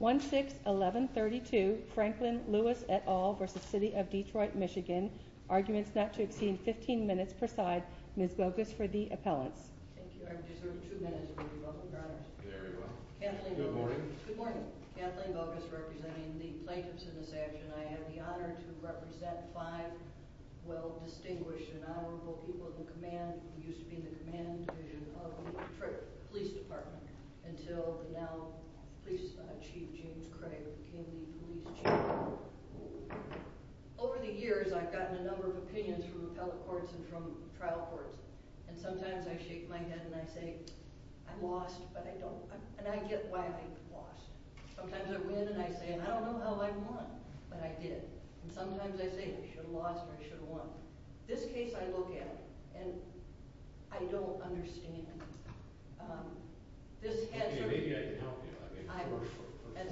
1-6-11-32 Franklin Lewis et al. v. City of Detroit, Michigan Arguments not to exceed 15 minutes per side. Ms. Bogus for the appellants. Thank you. I deserve two minutes. You're welcome, Your Honor. Good morning. Good morning. Kathleen Bogus representing the plaintiffs in this action. I have the honor to represent five well-distinguished and honorable people in the command, division of the Detroit Police Department until the now police chief, James Craig, became the police chief. Over the years, I've gotten a number of opinions from appellate courts and from trial courts, and sometimes I shake my head and I say, I lost, but I don't, and I get why I lost. Sometimes I win and I say, I don't know how I won, but I did. And sometimes I say, I should have lost or I should have won. This case I look at and I don't understand. Maybe I can help you. For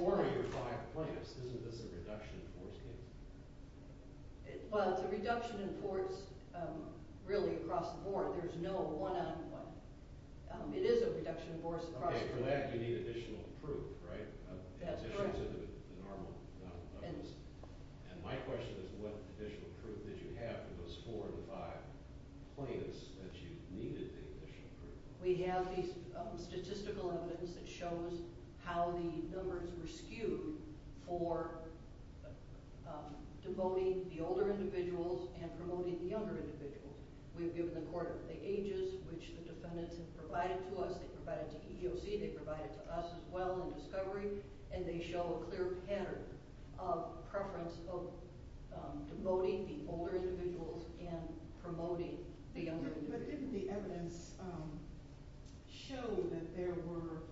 four of your five plaintiffs, isn't this a reduction in force case? Well, it's a reduction in force really across the board. There's no one-on-one. It is a reduction in force across the board. For that, you need additional proof, right? That's correct. And my question is, what additional proof did you have for those four of the five plaintiffs that you needed the additional proof? We have these statistical evidence that shows how the numbers were skewed for devoting the older individuals and promoting the younger individuals. We've given the court the ages, which the defendants have provided to us. They provided to us as well in discovery, and they show a clear pattern of preference of devoting the older individuals and promoting the younger individuals. But didn't the evidence show that there were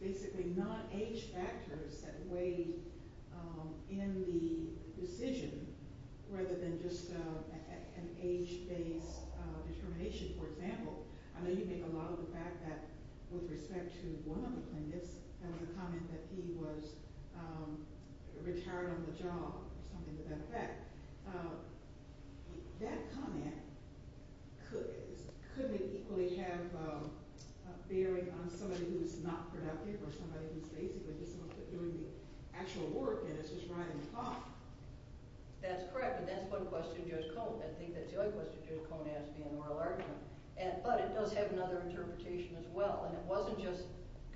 basically non-age factors that weighed in the decision rather than just an age-based determination, for example? I know you make a lot of the fact that with respect to one of the plaintiffs, there was a comment that he was retired on the job or something to that effect. That comment couldn't it equally have a bearing on somebody who's not productive or somebody who's basically just doing the actual work and is just riding the clock? That's correct, and that's one question Judge Cohn asked me in oral argument. But it does have another interpretation as well, and it wasn't just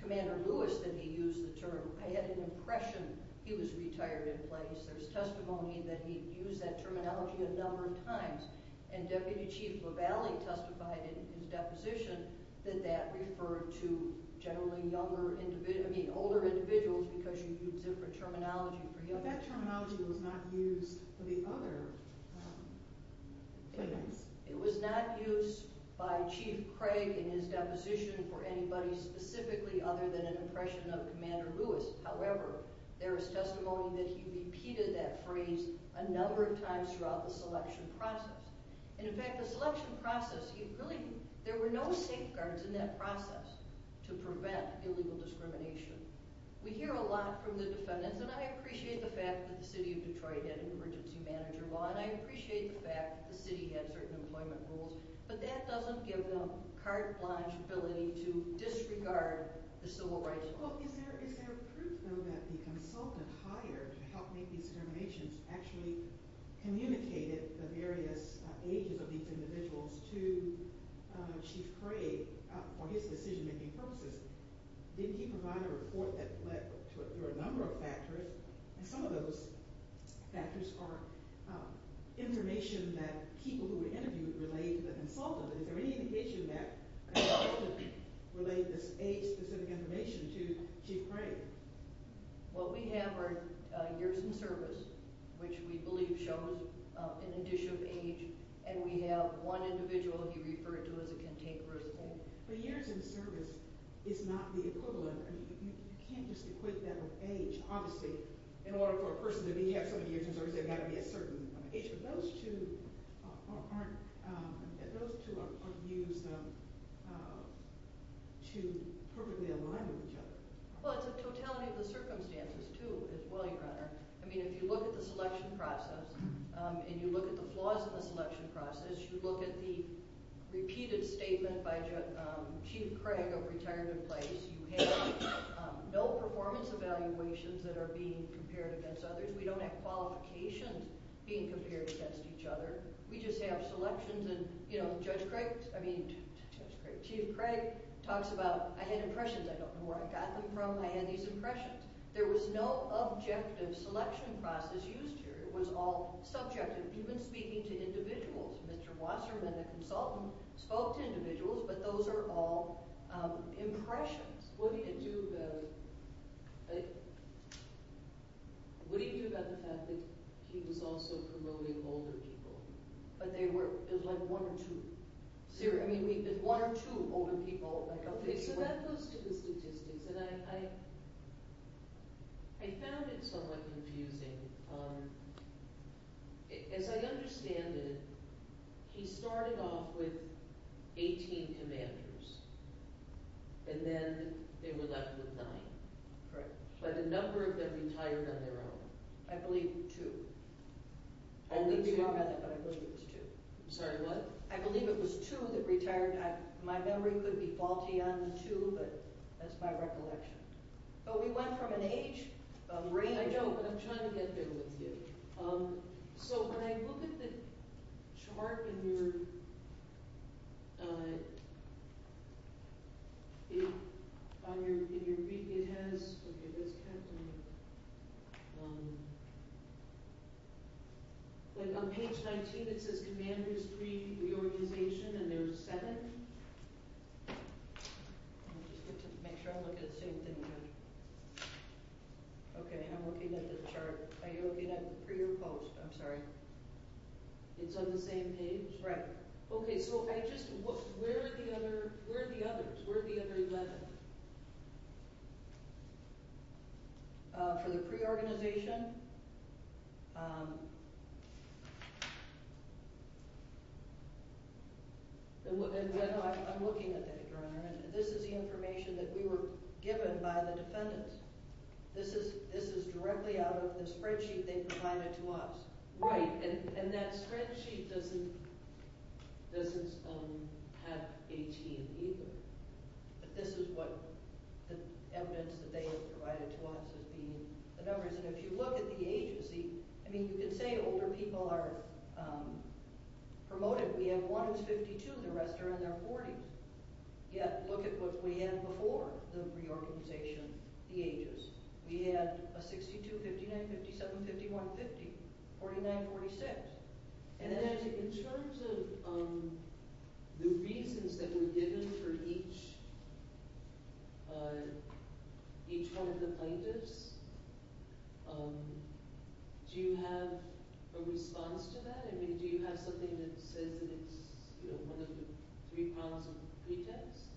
Commander Lewis that he used the term. I had an impression he was retired in place. There's testimony that he used that terminology a number of times, and Deputy Chief LaValle testified in his deposition that that referred to generally older individuals because you used different terminology for him. But that terminology was not used for the other plaintiffs. It was not used by Chief Craig in his deposition for anybody specifically other than an impression of Commander Lewis. However, there is testimony that he repeated that phrase a number of times throughout the selection process. And in fact, the selection process, there were no safeguards in that process to prevent illegal discrimination. We hear a lot from the defendants, and I appreciate the fact that the city of Detroit had an emergency manager law, and I appreciate the fact that the city had certain employment rules, but that doesn't give them carte blanche ability to disregard the civil rights law. Well, is there proof, though, that the consultant hired to help make these determinations actually communicated the various ages of these individuals to Chief Craig for his decision-making purposes? Didn't he provide a report that led to a number of factors? And some of those factors are information that people who were interviewed relayed to the consultant. Is there any indication that the consultant relayed this age-specific information to Chief Craig? What we have are years in service, which we believe shows an addition of age, and we have one individual he referred to as a contemporary. But years in service is not the equivalent. I mean, you can't just equate that with age. Obviously, in order for a person to have so many years in service, there's got to be a certain age, but those two aren't – those two are used to perfectly align with each other. Well, it's a totality of the circumstances, too, as William Brenner – I mean, if you look at the selection process and you look at the flaws in the selection process, you look at the repeated statement by Chief Craig of retirement place, you have no performance evaluations that are being compared against others. We don't have qualifications being compared against each other. We just have selections, and, you know, Judge Craig – I mean, Chief Craig talks about, I had impressions. I don't know where I got them from. I had these impressions. There was no objective selection process used here. It was all subjective, even speaking to individuals. Mr. Wasserman, the consultant, spoke to individuals, but those are all impressions. What do you do about – what do you do about the fact that he was also promoting older people? But they were – it was like one or two – I mean, one or two older people – Okay, so that goes to the statistics, and I found it somewhat confusing. As I understand it, he started off with 18 commanders, and then they were left with nine. Correct. But a number of them retired on their own. I believe two. Only two? I believe you are correct, but I believe it was two. I'm sorry, what? I believe it was two that retired. My memory could be faulty on the two, but that's my recollection. But we went from an age range – I know, but I'm trying to get there with you. So when I look at the chart in your – on your – it has – okay, this kept me – like on page 19, it says commanders, three, the organization, and there's seven. I'll just make sure I look at the same thing again. Okay, I'm looking at the chart. Are you looking at the pre or post? I'm sorry. It's on the same page? Right. Okay, so I just – where are the others? Where are the other 11? For the pre-organization? I'm looking at that, Your Honor, and this is the information that we were given by the defendants. This is directly out of the spreadsheet they provided to us. Right, and that spreadsheet doesn't – doesn't have 18 either. But this is what the evidence that they have provided to us as being the numbers. And if you look at the ages, I mean, you can say older people are promoted. We have one who's 52. The rest are in their 40s. Yeah, look at what we had before the reorganization, the ages. We had a 62, 59, 57, 51, 50, 49, 46. And then in terms of the reasons that were given for each one of the plaintiffs, do you have a response to that? I mean, do you have something that says that it's, you know, one of the three problems of pretext?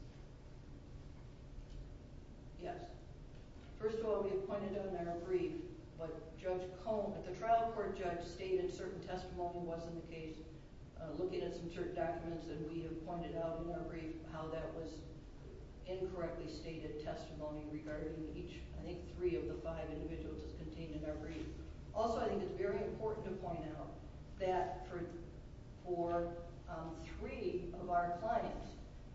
Yes. First of all, we have pointed out in our brief what Judge Cohn – that the trial court judge stated certain testimony wasn't the case, looking at some certain documents, and we have pointed out in our brief how that was incorrectly stated testimony regarding each, I think, three of the five individuals that's contained in our brief. Also, I think it's very important to point out that for three of our clients,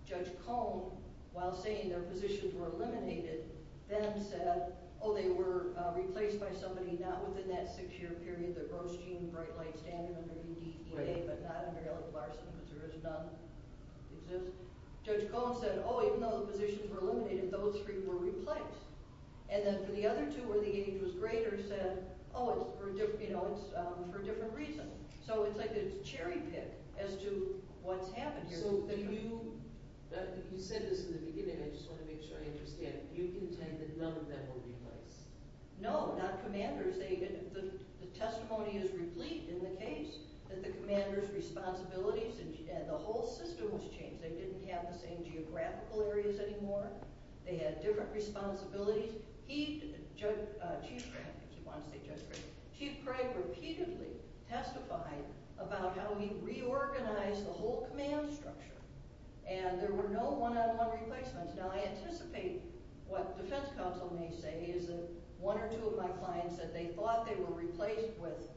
Judge Cohn, while saying their positions were eliminated, then said, oh, they were replaced by somebody not within that six-year period, the Grosjean, Bright Light, Standard, or maybe DEA, but not under Elliott Larson because there is none that exists. Judge Cohn said, oh, even though the positions were eliminated, those three were replaced. And then for the other two where the age was greater, said, oh, it's for a different reason. So it's like a cherry pick as to what's happened here. So do you – you said this in the beginning. I just want to make sure I understand. You contend that none of them were replaced? No, not commanders. The testimony is replete in the case that the commanders' responsibilities and the whole system was changed. They didn't have the same geographical areas anymore. They had different responsibilities. Chief Craig, if you want to say Judge Craig, Chief Craig repeatedly testified about how he reorganized the whole command structure, and there were no one-on-one replacements. Now, I anticipate what defense counsel may say is that one or two of my clients said they thought they were replaced with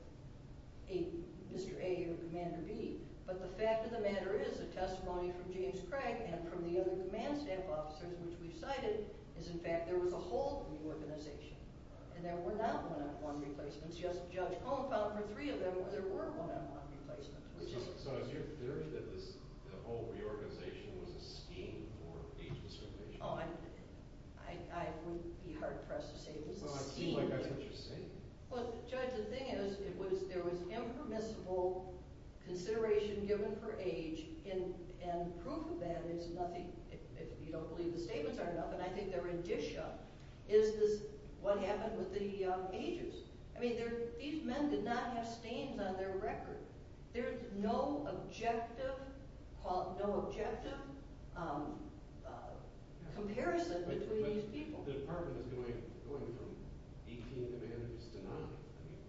a Mr. A or Commander B, but the fact of the matter is the testimony from James Craig and from the other command staff officers, which we've cited, is, in fact, there was a whole reorganization, and there were not one-on-one replacements. Yes, Judge Cohn found for three of them where there were one-on-one replacements. So is your theory that this whole reorganization was a scheme for age discrimination? Oh, I wouldn't be hard-pressed to say it was a scheme. Well, it seems like that's what you're saying. Well, Judge, the thing is there was impermissible consideration given for age and proof of that is nothing if you don't believe the statements are enough, and I think they're in dish up, is what happened with the ages. I mean, these men did not have stains on their record. There's no objective comparison between these people. But the department is going from 18 to 19. I mean,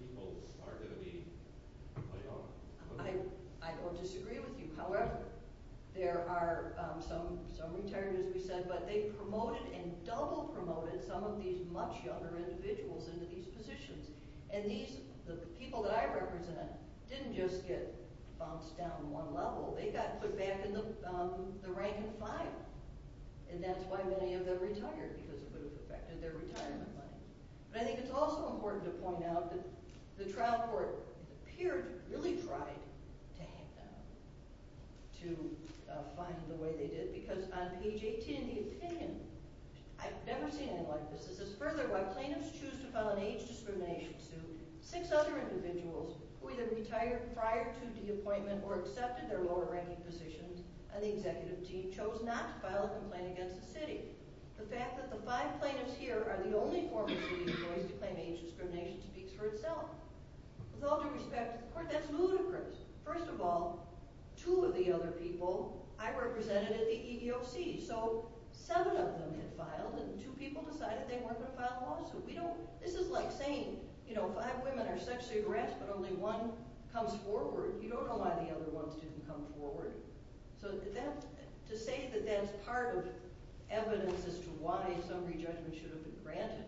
people are going to be played off. I don't disagree with you. However, there are some retired, as we said, but they promoted and double promoted some of these much younger individuals into these positions, and the people that I represent didn't just get bounced down one level. They got put back in the rank of five, and that's why many of them retired because it would have affected their retirement money. But I think it's also important to point out that the trial court appeared to have really tried to hack them, to find the way they did, because on page 18 of the opinion, I've never seen anything like this, it says, Further, while plaintiffs choose to file an age discrimination suit, six other individuals who either retired prior to the appointment or accepted their lower-ranking positions on the executive team chose not to file a complaint against the city. The fact that the five plaintiffs here are the only former city employees to claim age discrimination speaks for itself. With all due respect to the court, that's ludicrous. First of all, two of the other people I represented at the EEOC, so seven of them had filed, and two people decided they weren't going to file a lawsuit. This is like saying, you know, five women are sexually harassed, but only one comes forward. You don't know why the other one didn't come forward. So to say that that's part of evidence as to why some re-judgment should have been granted,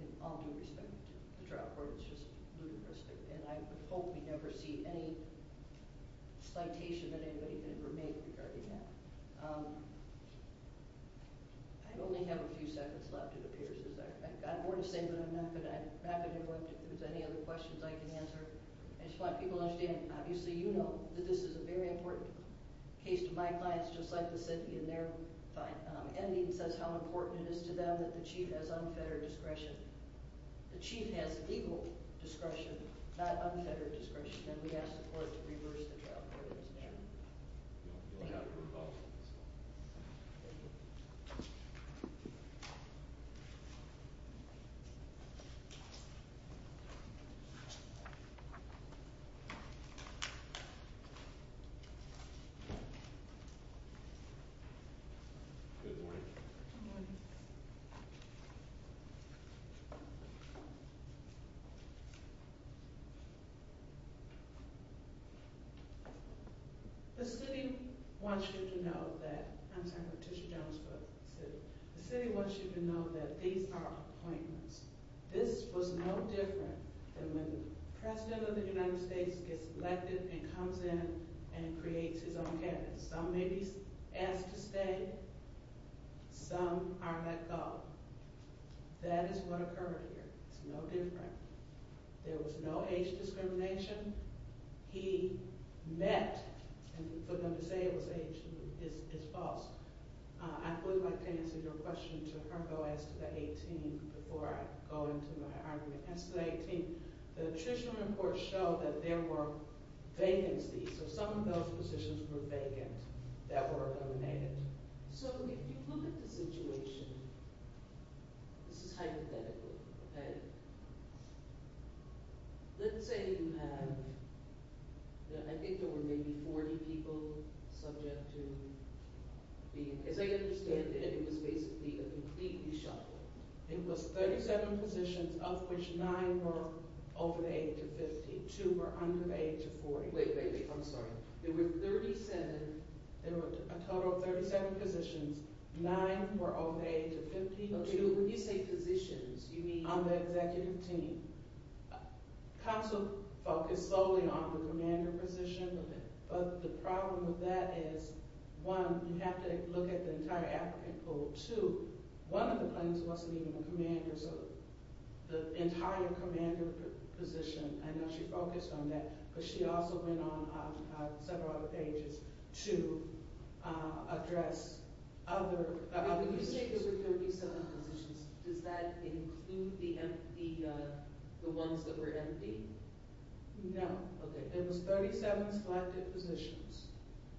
in all due respect to the trial court, it's just ludicrous. And I would hope we never see any citation that anybody can ever make regarding that. I only have a few seconds left, it appears, because I've got more to say, but I'm not going to go into any other questions I can answer. I just want people to understand, obviously you know that this is a very important case to my clients, just like the city in their findings says how important it is to them that the chief has unfettered discretion. The chief has legal discretion, not unfettered discretion, and we ask the court to reverse the trial court in this matter. Thank you. Good morning. Good morning. The city wants you to know that – I'm sorry, Patricia Jones for the city. The city wants you to know that these are appointments. This was no different than when the President of the United States gets elected and comes in and creates his own cabinet. Some may be asked to stay, some are let go. That is what occurred here. It's no different. There was no age discrimination. He met – and for them to say it was age is false. I would like to answer your question to her though as to the 18th before I go into my argument. As to the 18th, the judicial reports show that there were vacancies, so some of those positions were vacant that were eliminated. So if you look at the situation, this is hypothetical. Let's say you have – I think there were maybe 40 people subject to being – as I understand it, it was basically a completely shut-in. It was 37 positions of which 9 were over the age of 50. Two were under the age of 40. Wait, wait, wait. I'm sorry. There were 37 – there were a total of 37 positions. Nine were over the age of 50. When you say positions, you mean – On the executive team. Counsel focused solely on the commander position, but the problem with that is, one, you have to look at the entire applicant pool. Two, one of the plans wasn't even a commander, so the entire commander position – I know she focused on that, but she also went on several other pages to address other – When you say there were 37 positions, does that include the ones that were empty? No. Okay. There was 37 selected positions.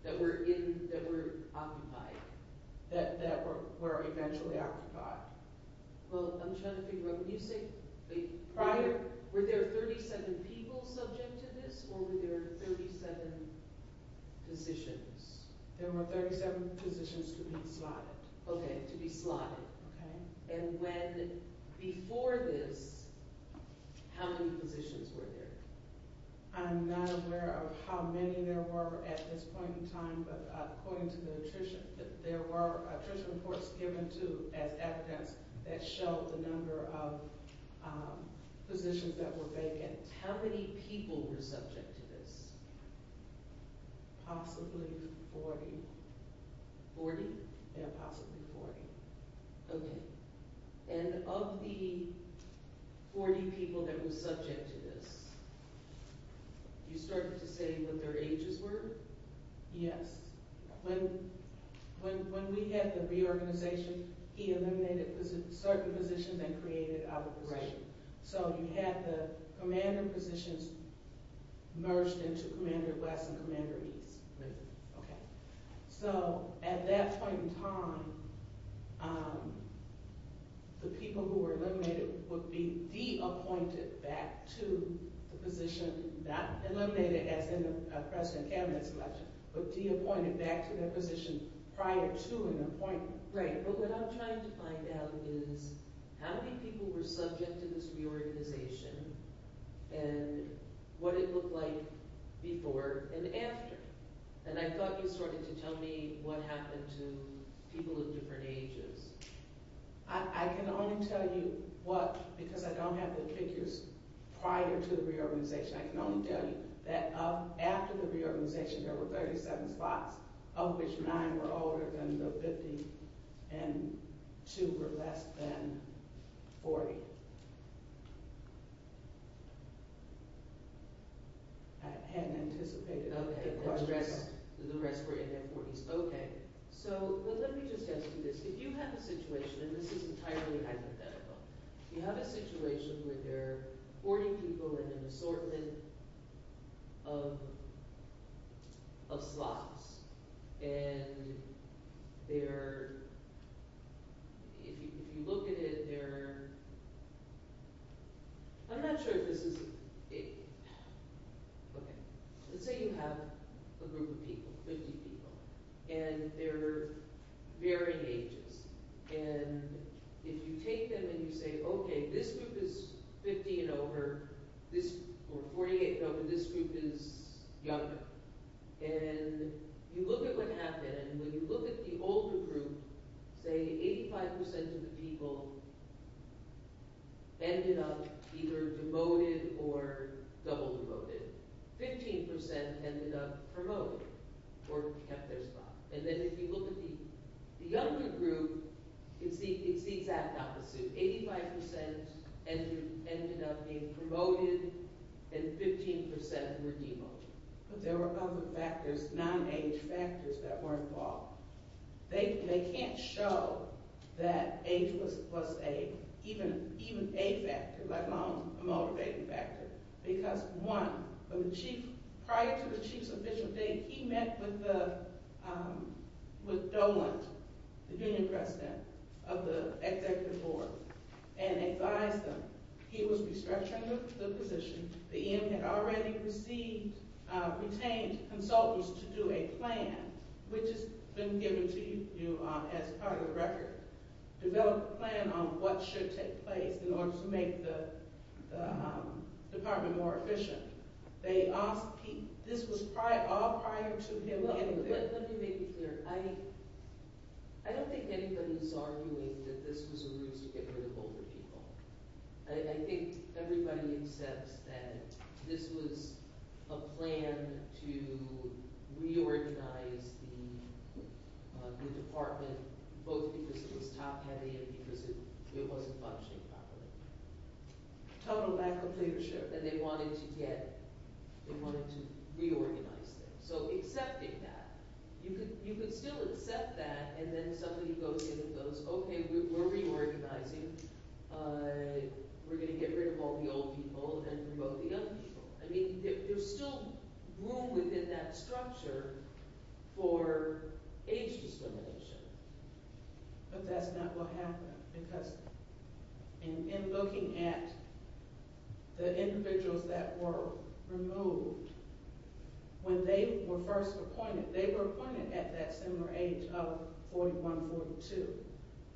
That were in – that were occupied. That were eventually occupied. Well, I'm trying to figure out what you say. Prior – were there 37 people subject to this, or were there 37 positions? There were 37 positions to be slotted. Okay, to be slotted. Okay. And when – before this, how many positions were there? I'm not aware of how many there were at this point in time, but according to the attrition, there were attrition reports given, too, as evidence that showed the number of positions that were vacant. How many people were subject to this? Possibly 40. 40? Yeah, possibly 40. Okay. And of the 40 people that were subject to this, you started to say what their ages were? Yes. When we had the reorganization, he eliminated certain positions and created other positions. Right. So you had the commander positions merged into Commander West and Commander East. Right. Okay. So at that point in time, the people who were eliminated would be de-appointed back to the position – not eliminated as in the President's Cabinet selection, but de-appointed back to their position prior to an appointment. Right. But what I'm trying to find out is how many people were subject to this reorganization and what it looked like before and after. And I thought you started to tell me what happened to people of different ages. I can only tell you what – because I don't have the figures prior to the reorganization. I can only tell you that after the reorganization, there were 37 spots, of which 9 were older than 50 and 2 were less than 40. I hadn't anticipated that. Okay. The rest were in their 40s. Okay. So let me just ask you this. If you have a situation – and this is entirely hypothetical – if you have a situation where there are 40 people in an assortment of slots and they're – if you look at it, they're – I'm not sure if this is – okay. Let's say you have a group of people, 50 people, and they're varying ages. And if you take them and you say, okay, this group is 50 and over. This – or 48 and over. This group is younger. And you look at what happened. When you look at the older group, say 85 percent of the people ended up either demoted or double demoted. Fifteen percent ended up promoted or kept their spot. And then if you look at the younger group, it's the exact opposite. Eighty-five percent ended up being promoted and 15 percent were demoted. But there were other factors, non-age factors, that were involved. They can't show that age was a – even a factor, let alone a motivating factor. Because, one, when the chief – prior to the chief's official date, he met with the – with Dolan, the union president of the executive board, and advised them. He was restructuring the position. The EM had already received – retained consultants to do a plan, which has been given to you as part of the record. Developed a plan on what should take place in order to make the department more efficient. They asked – this was prior – all prior to him getting there. Let me make it clear. I don't think anybody's arguing that this was a ruse to get rid of older people. I think everybody accepts that this was a plan to reorganize the department, both because it was top-heavy and because it wasn't functioning properly. Total lack of leadership. And they wanted to get – they wanted to reorganize things. So accepting that. You could still accept that, and then somebody goes in and goes, okay, we're reorganizing. We're going to get rid of all the old people and remove the young people. I mean, there's still room within that structure for age discrimination. But that's not what happened, because in looking at the individuals that were removed, when they were first appointed, they were appointed at that similar age of 41, 42.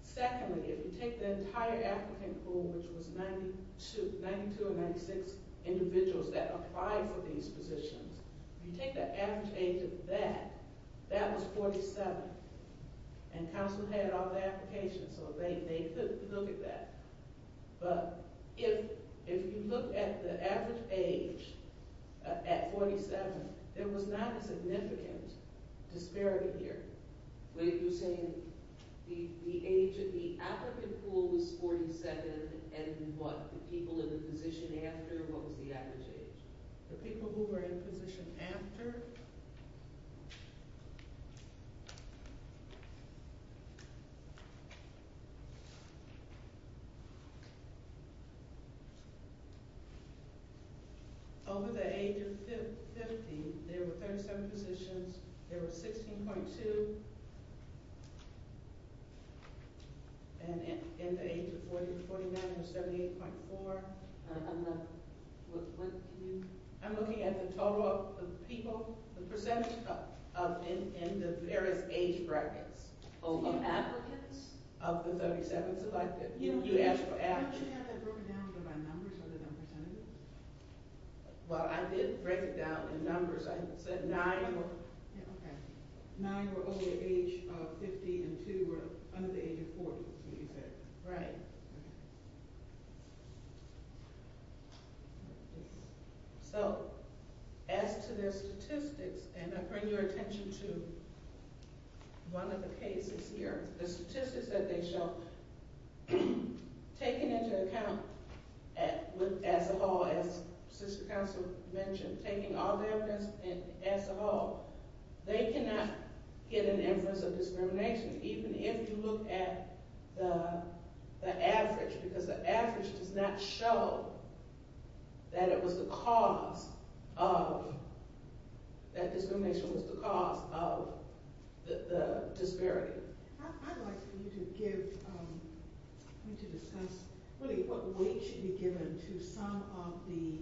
Secondly, if you take the entire applicant pool, which was 92 or 96 individuals that applied for these positions, if you take the average age of that, that was 47. And council had all the applications, so they could look at that. But if you look at the average age at 47, there was not a significant disparity here. When you're saying the age of the applicant pool was 47 and what, the people in the position after, what was the average age? The people who were in position after? Over the age of 50, there were 37 positions. There were 16.2. And in the age of 40, 49 or 78.4. I'm looking at the total of the people, the percentage in the various age brackets. Of the applicants? Of the 37. Didn't you have that broken down by numbers other than percentages? Well, I did break it down in numbers. I said nine were over the age of 50 and two were under the age of 40. Right. So, as to the statistics, and I bring your attention to one of the cases here, the statistics that they show, taken into account as a whole, as sister council mentioned, taking all the evidence as a whole, they cannot get an inference of discrimination, even if you look at the average, because the average does not show that it was the cause of, that discrimination was the cause of the disparity. I'd like for you to give, to discuss what weight should be given to some of the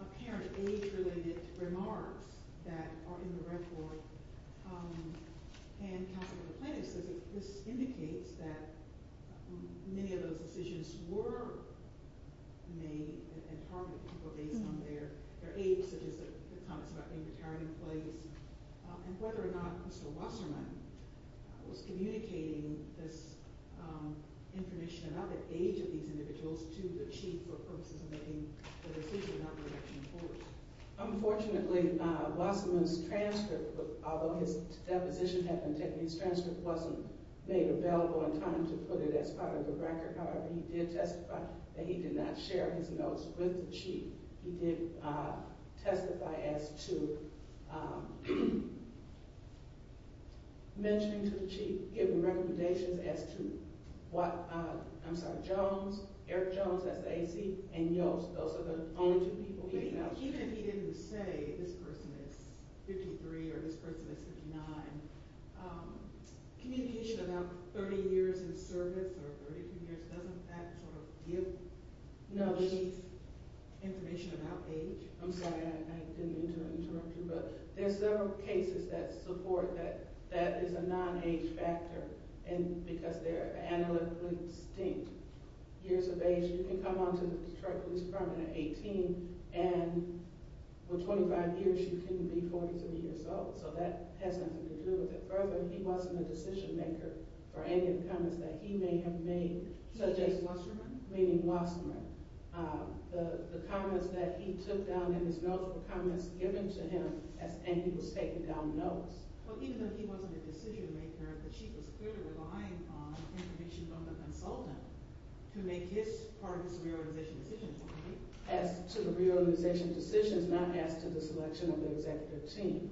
apparent age-related remarks that are in the report. And Council Member Plano says this indicates that many of those decisions were made and targeted people based on their age, such as the comments about being retired in place, and whether or not Mr. Wasserman was communicating this information about the age of these individuals to the chief for purposes of making the decision on the election in force. Unfortunately, Wasserman's transcript, although his deposition had been taken, his transcript wasn't made available in time to put it as part of the record. However, he did testify that he did not share his notes with the chief. He did testify as to mentioning to the chief, giving recommendations as to what, I'm sorry, Jones, Eric Jones, that's the AC, and Yost, those are the only two people. Even if he didn't say this person is 53 or this person is 59, communication about 30 years in service or 32 years, doesn't that give information about age? I'm sorry, I didn't mean to interrupt you, but there's several cases that support that that is a non-age factor because they're analytically distinct years of age. You can come on to the Detroit Police Department at 18, and for 25 years you can be 43 years old, so that has nothing to do with it. Further, he wasn't a decision-maker for any of the comments that he may have made, such as Wasserman, the comments that he took down in his notes, the comments given to him, and he was taken down notes. Even though he wasn't a decision-maker, the chief was clearly relying on information from the consultant to make his part of this reorganization decision. As to the reorganization decisions, not as to the selection of the executive team,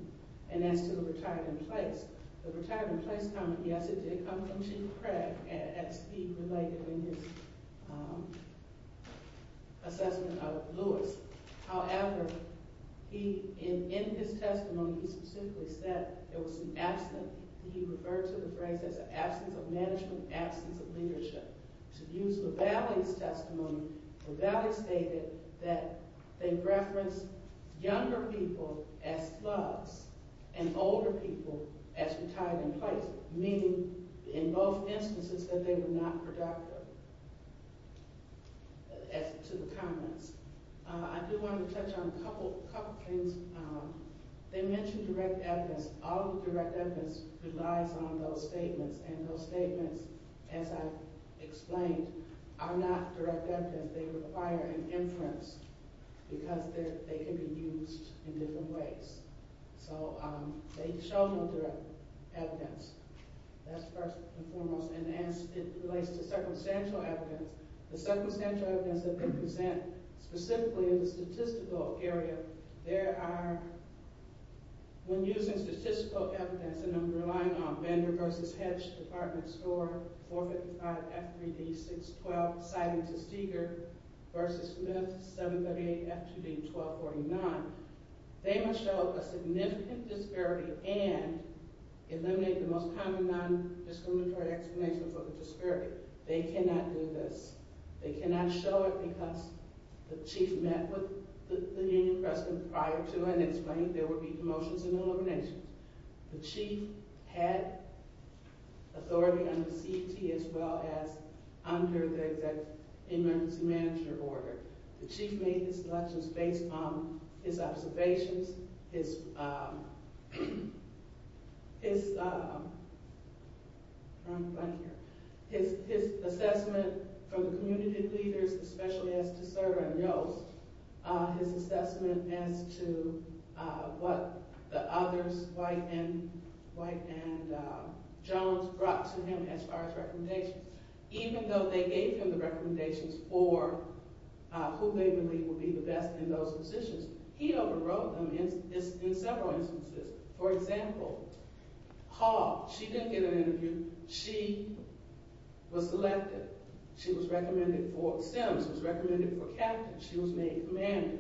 and as to the retired-in-place, the retired-in-place comment, yes, it did come from Chief Craig, as he related in his assessment of Lewis. However, in his testimony, he specifically said there was an absence, and he referred to the phrase as an absence of management, absence of leadership. To use LeValley's testimony, LeValley stated that they referenced younger people as thugs and older people as retired-in-place, meaning in both instances that they were not productive. As to the comments, I do want to touch on a couple of things. They mentioned direct evidence. All of the direct evidence relies on those statements, and those statements, as I explained, are not direct evidence. They require an inference because they can be used in different ways. So they show no direct evidence. That's first and foremost. And as it relates to circumstantial evidence, the circumstantial evidence that they present, specifically in the statistical area, there are, when using statistical evidence, and I'm relying on Bender v. Hedge, Department of Store, 455 F3D 612, citing to Steger v. Smith, 738 F2D 1249, they must show a significant disparity and eliminate the most common non-discriminatory explanation for the disparity. They cannot do this. They cannot show it because the chief met with the union president prior to and explained there would be promotions and eliminations. The chief had authority under CT as well as under the emergency manager order. The chief made his selections based on his observations, his assessment from the community leaders, especially as to Cerda and Yost, his assessment as to what the others, White and Jones, brought to him as far as recommendations. Even though they gave him the recommendations for who they believed would be the best in those positions, he overrode them in several instances. For example, Haw, she didn't get an interview. She was selected. She was recommended for STEM. She was recommended for captain. She was made commander.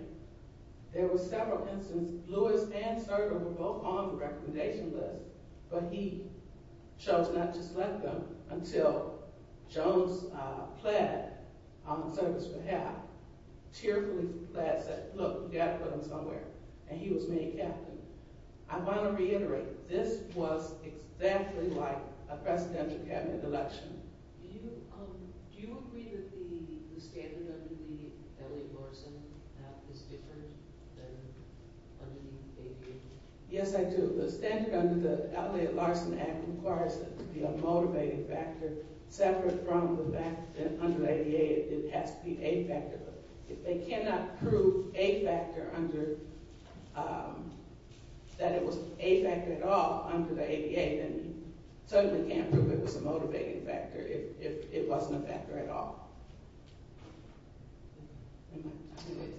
There were several instances, Lewis and Cerda were both on the recommendation list, but he chose not to select them until Jones pled on the service for half, tearfully pled, said, look, we've got to put him somewhere, and he was made captain. I want to reiterate, this was exactly like a presidential cabinet election. Do you agree that the standard under the Elliott-Larsen Act is different than under the ADA? Yes, I do. The standard under the Elliott-Larsen Act requires that there be a motivating factor separate from the fact that under the ADA it has to be a factor. If they cannot prove a factor under, that it was a factor at all under the ADA, then you certainly can't prove it was a motivating factor if it wasn't a factor at all.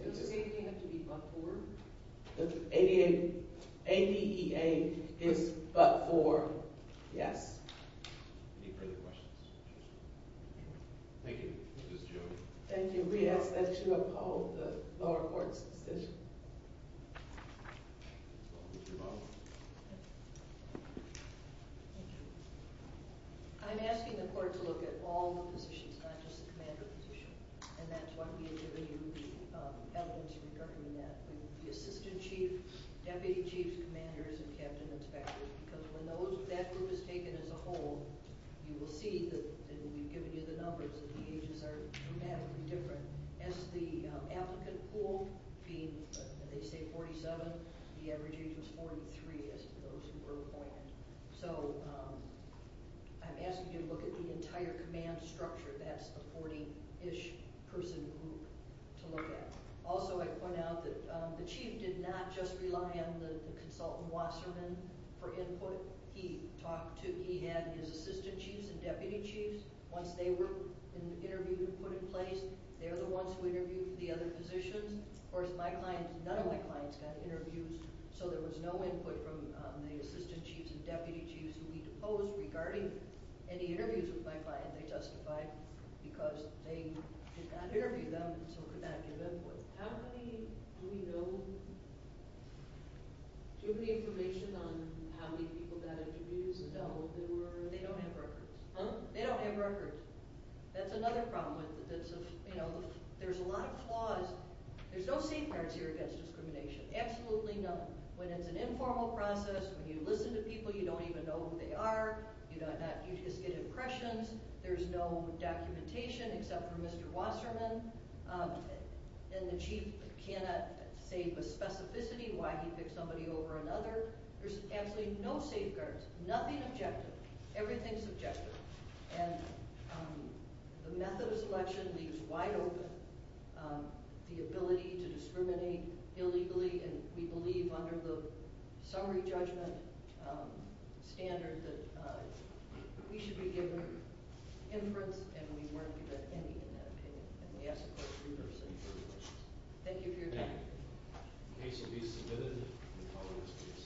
Does ADA have to be but for? ADA is but for, yes. Any further questions? Thank you. Ms. Jones. Thank you. We ask that you uphold the lower court's decision. I'm asking the court to look at all the positions, not just the commander position, and that's why we have given you the evidence regarding that, the assistant chief, deputy chief commanders, and captain inspectors, because when that group is taken as a whole, you will see that and we've given you the numbers and the ages are dramatically different. As the applicant pool, they say 47, the average age was 43 as to those who were appointed. So I'm asking you to look at the entire command structure. That's a 40-ish person group to look at. Also, I point out that the chief did not just rely on the consultant Wasserman for input. He had his assistant chiefs and deputy chiefs. Once they were interviewed and put in place, they're the ones who interviewed the other positions. Of course, none of my clients got interviews, so there was no input from the assistant chiefs and deputy chiefs who we deposed regarding any interviews with my client. They testified because they did not interview them, so could not give input. How many do we know? Do we have any information on how many people got interviews? No, they don't have records. Huh? They don't have records. That's another problem with it. There's a lot of flaws. There's no safeguards here against discrimination, absolutely none. When it's an informal process, when you listen to people, you don't even know who they are. You just get impressions. There's no documentation except for Mr. Wasserman. And the chief cannot say with specificity why he picked somebody over another. There's absolutely no safeguards, nothing objective. Everything's subjective. And the method of selection leaves wide open the ability to discriminate illegally, and we believe under the summary judgment standard that we should be given inference, and we weren't given any in that opinion. And we ask the court's reviewers to make their own decisions. Thank you for your time. The case will be submitted in the following days.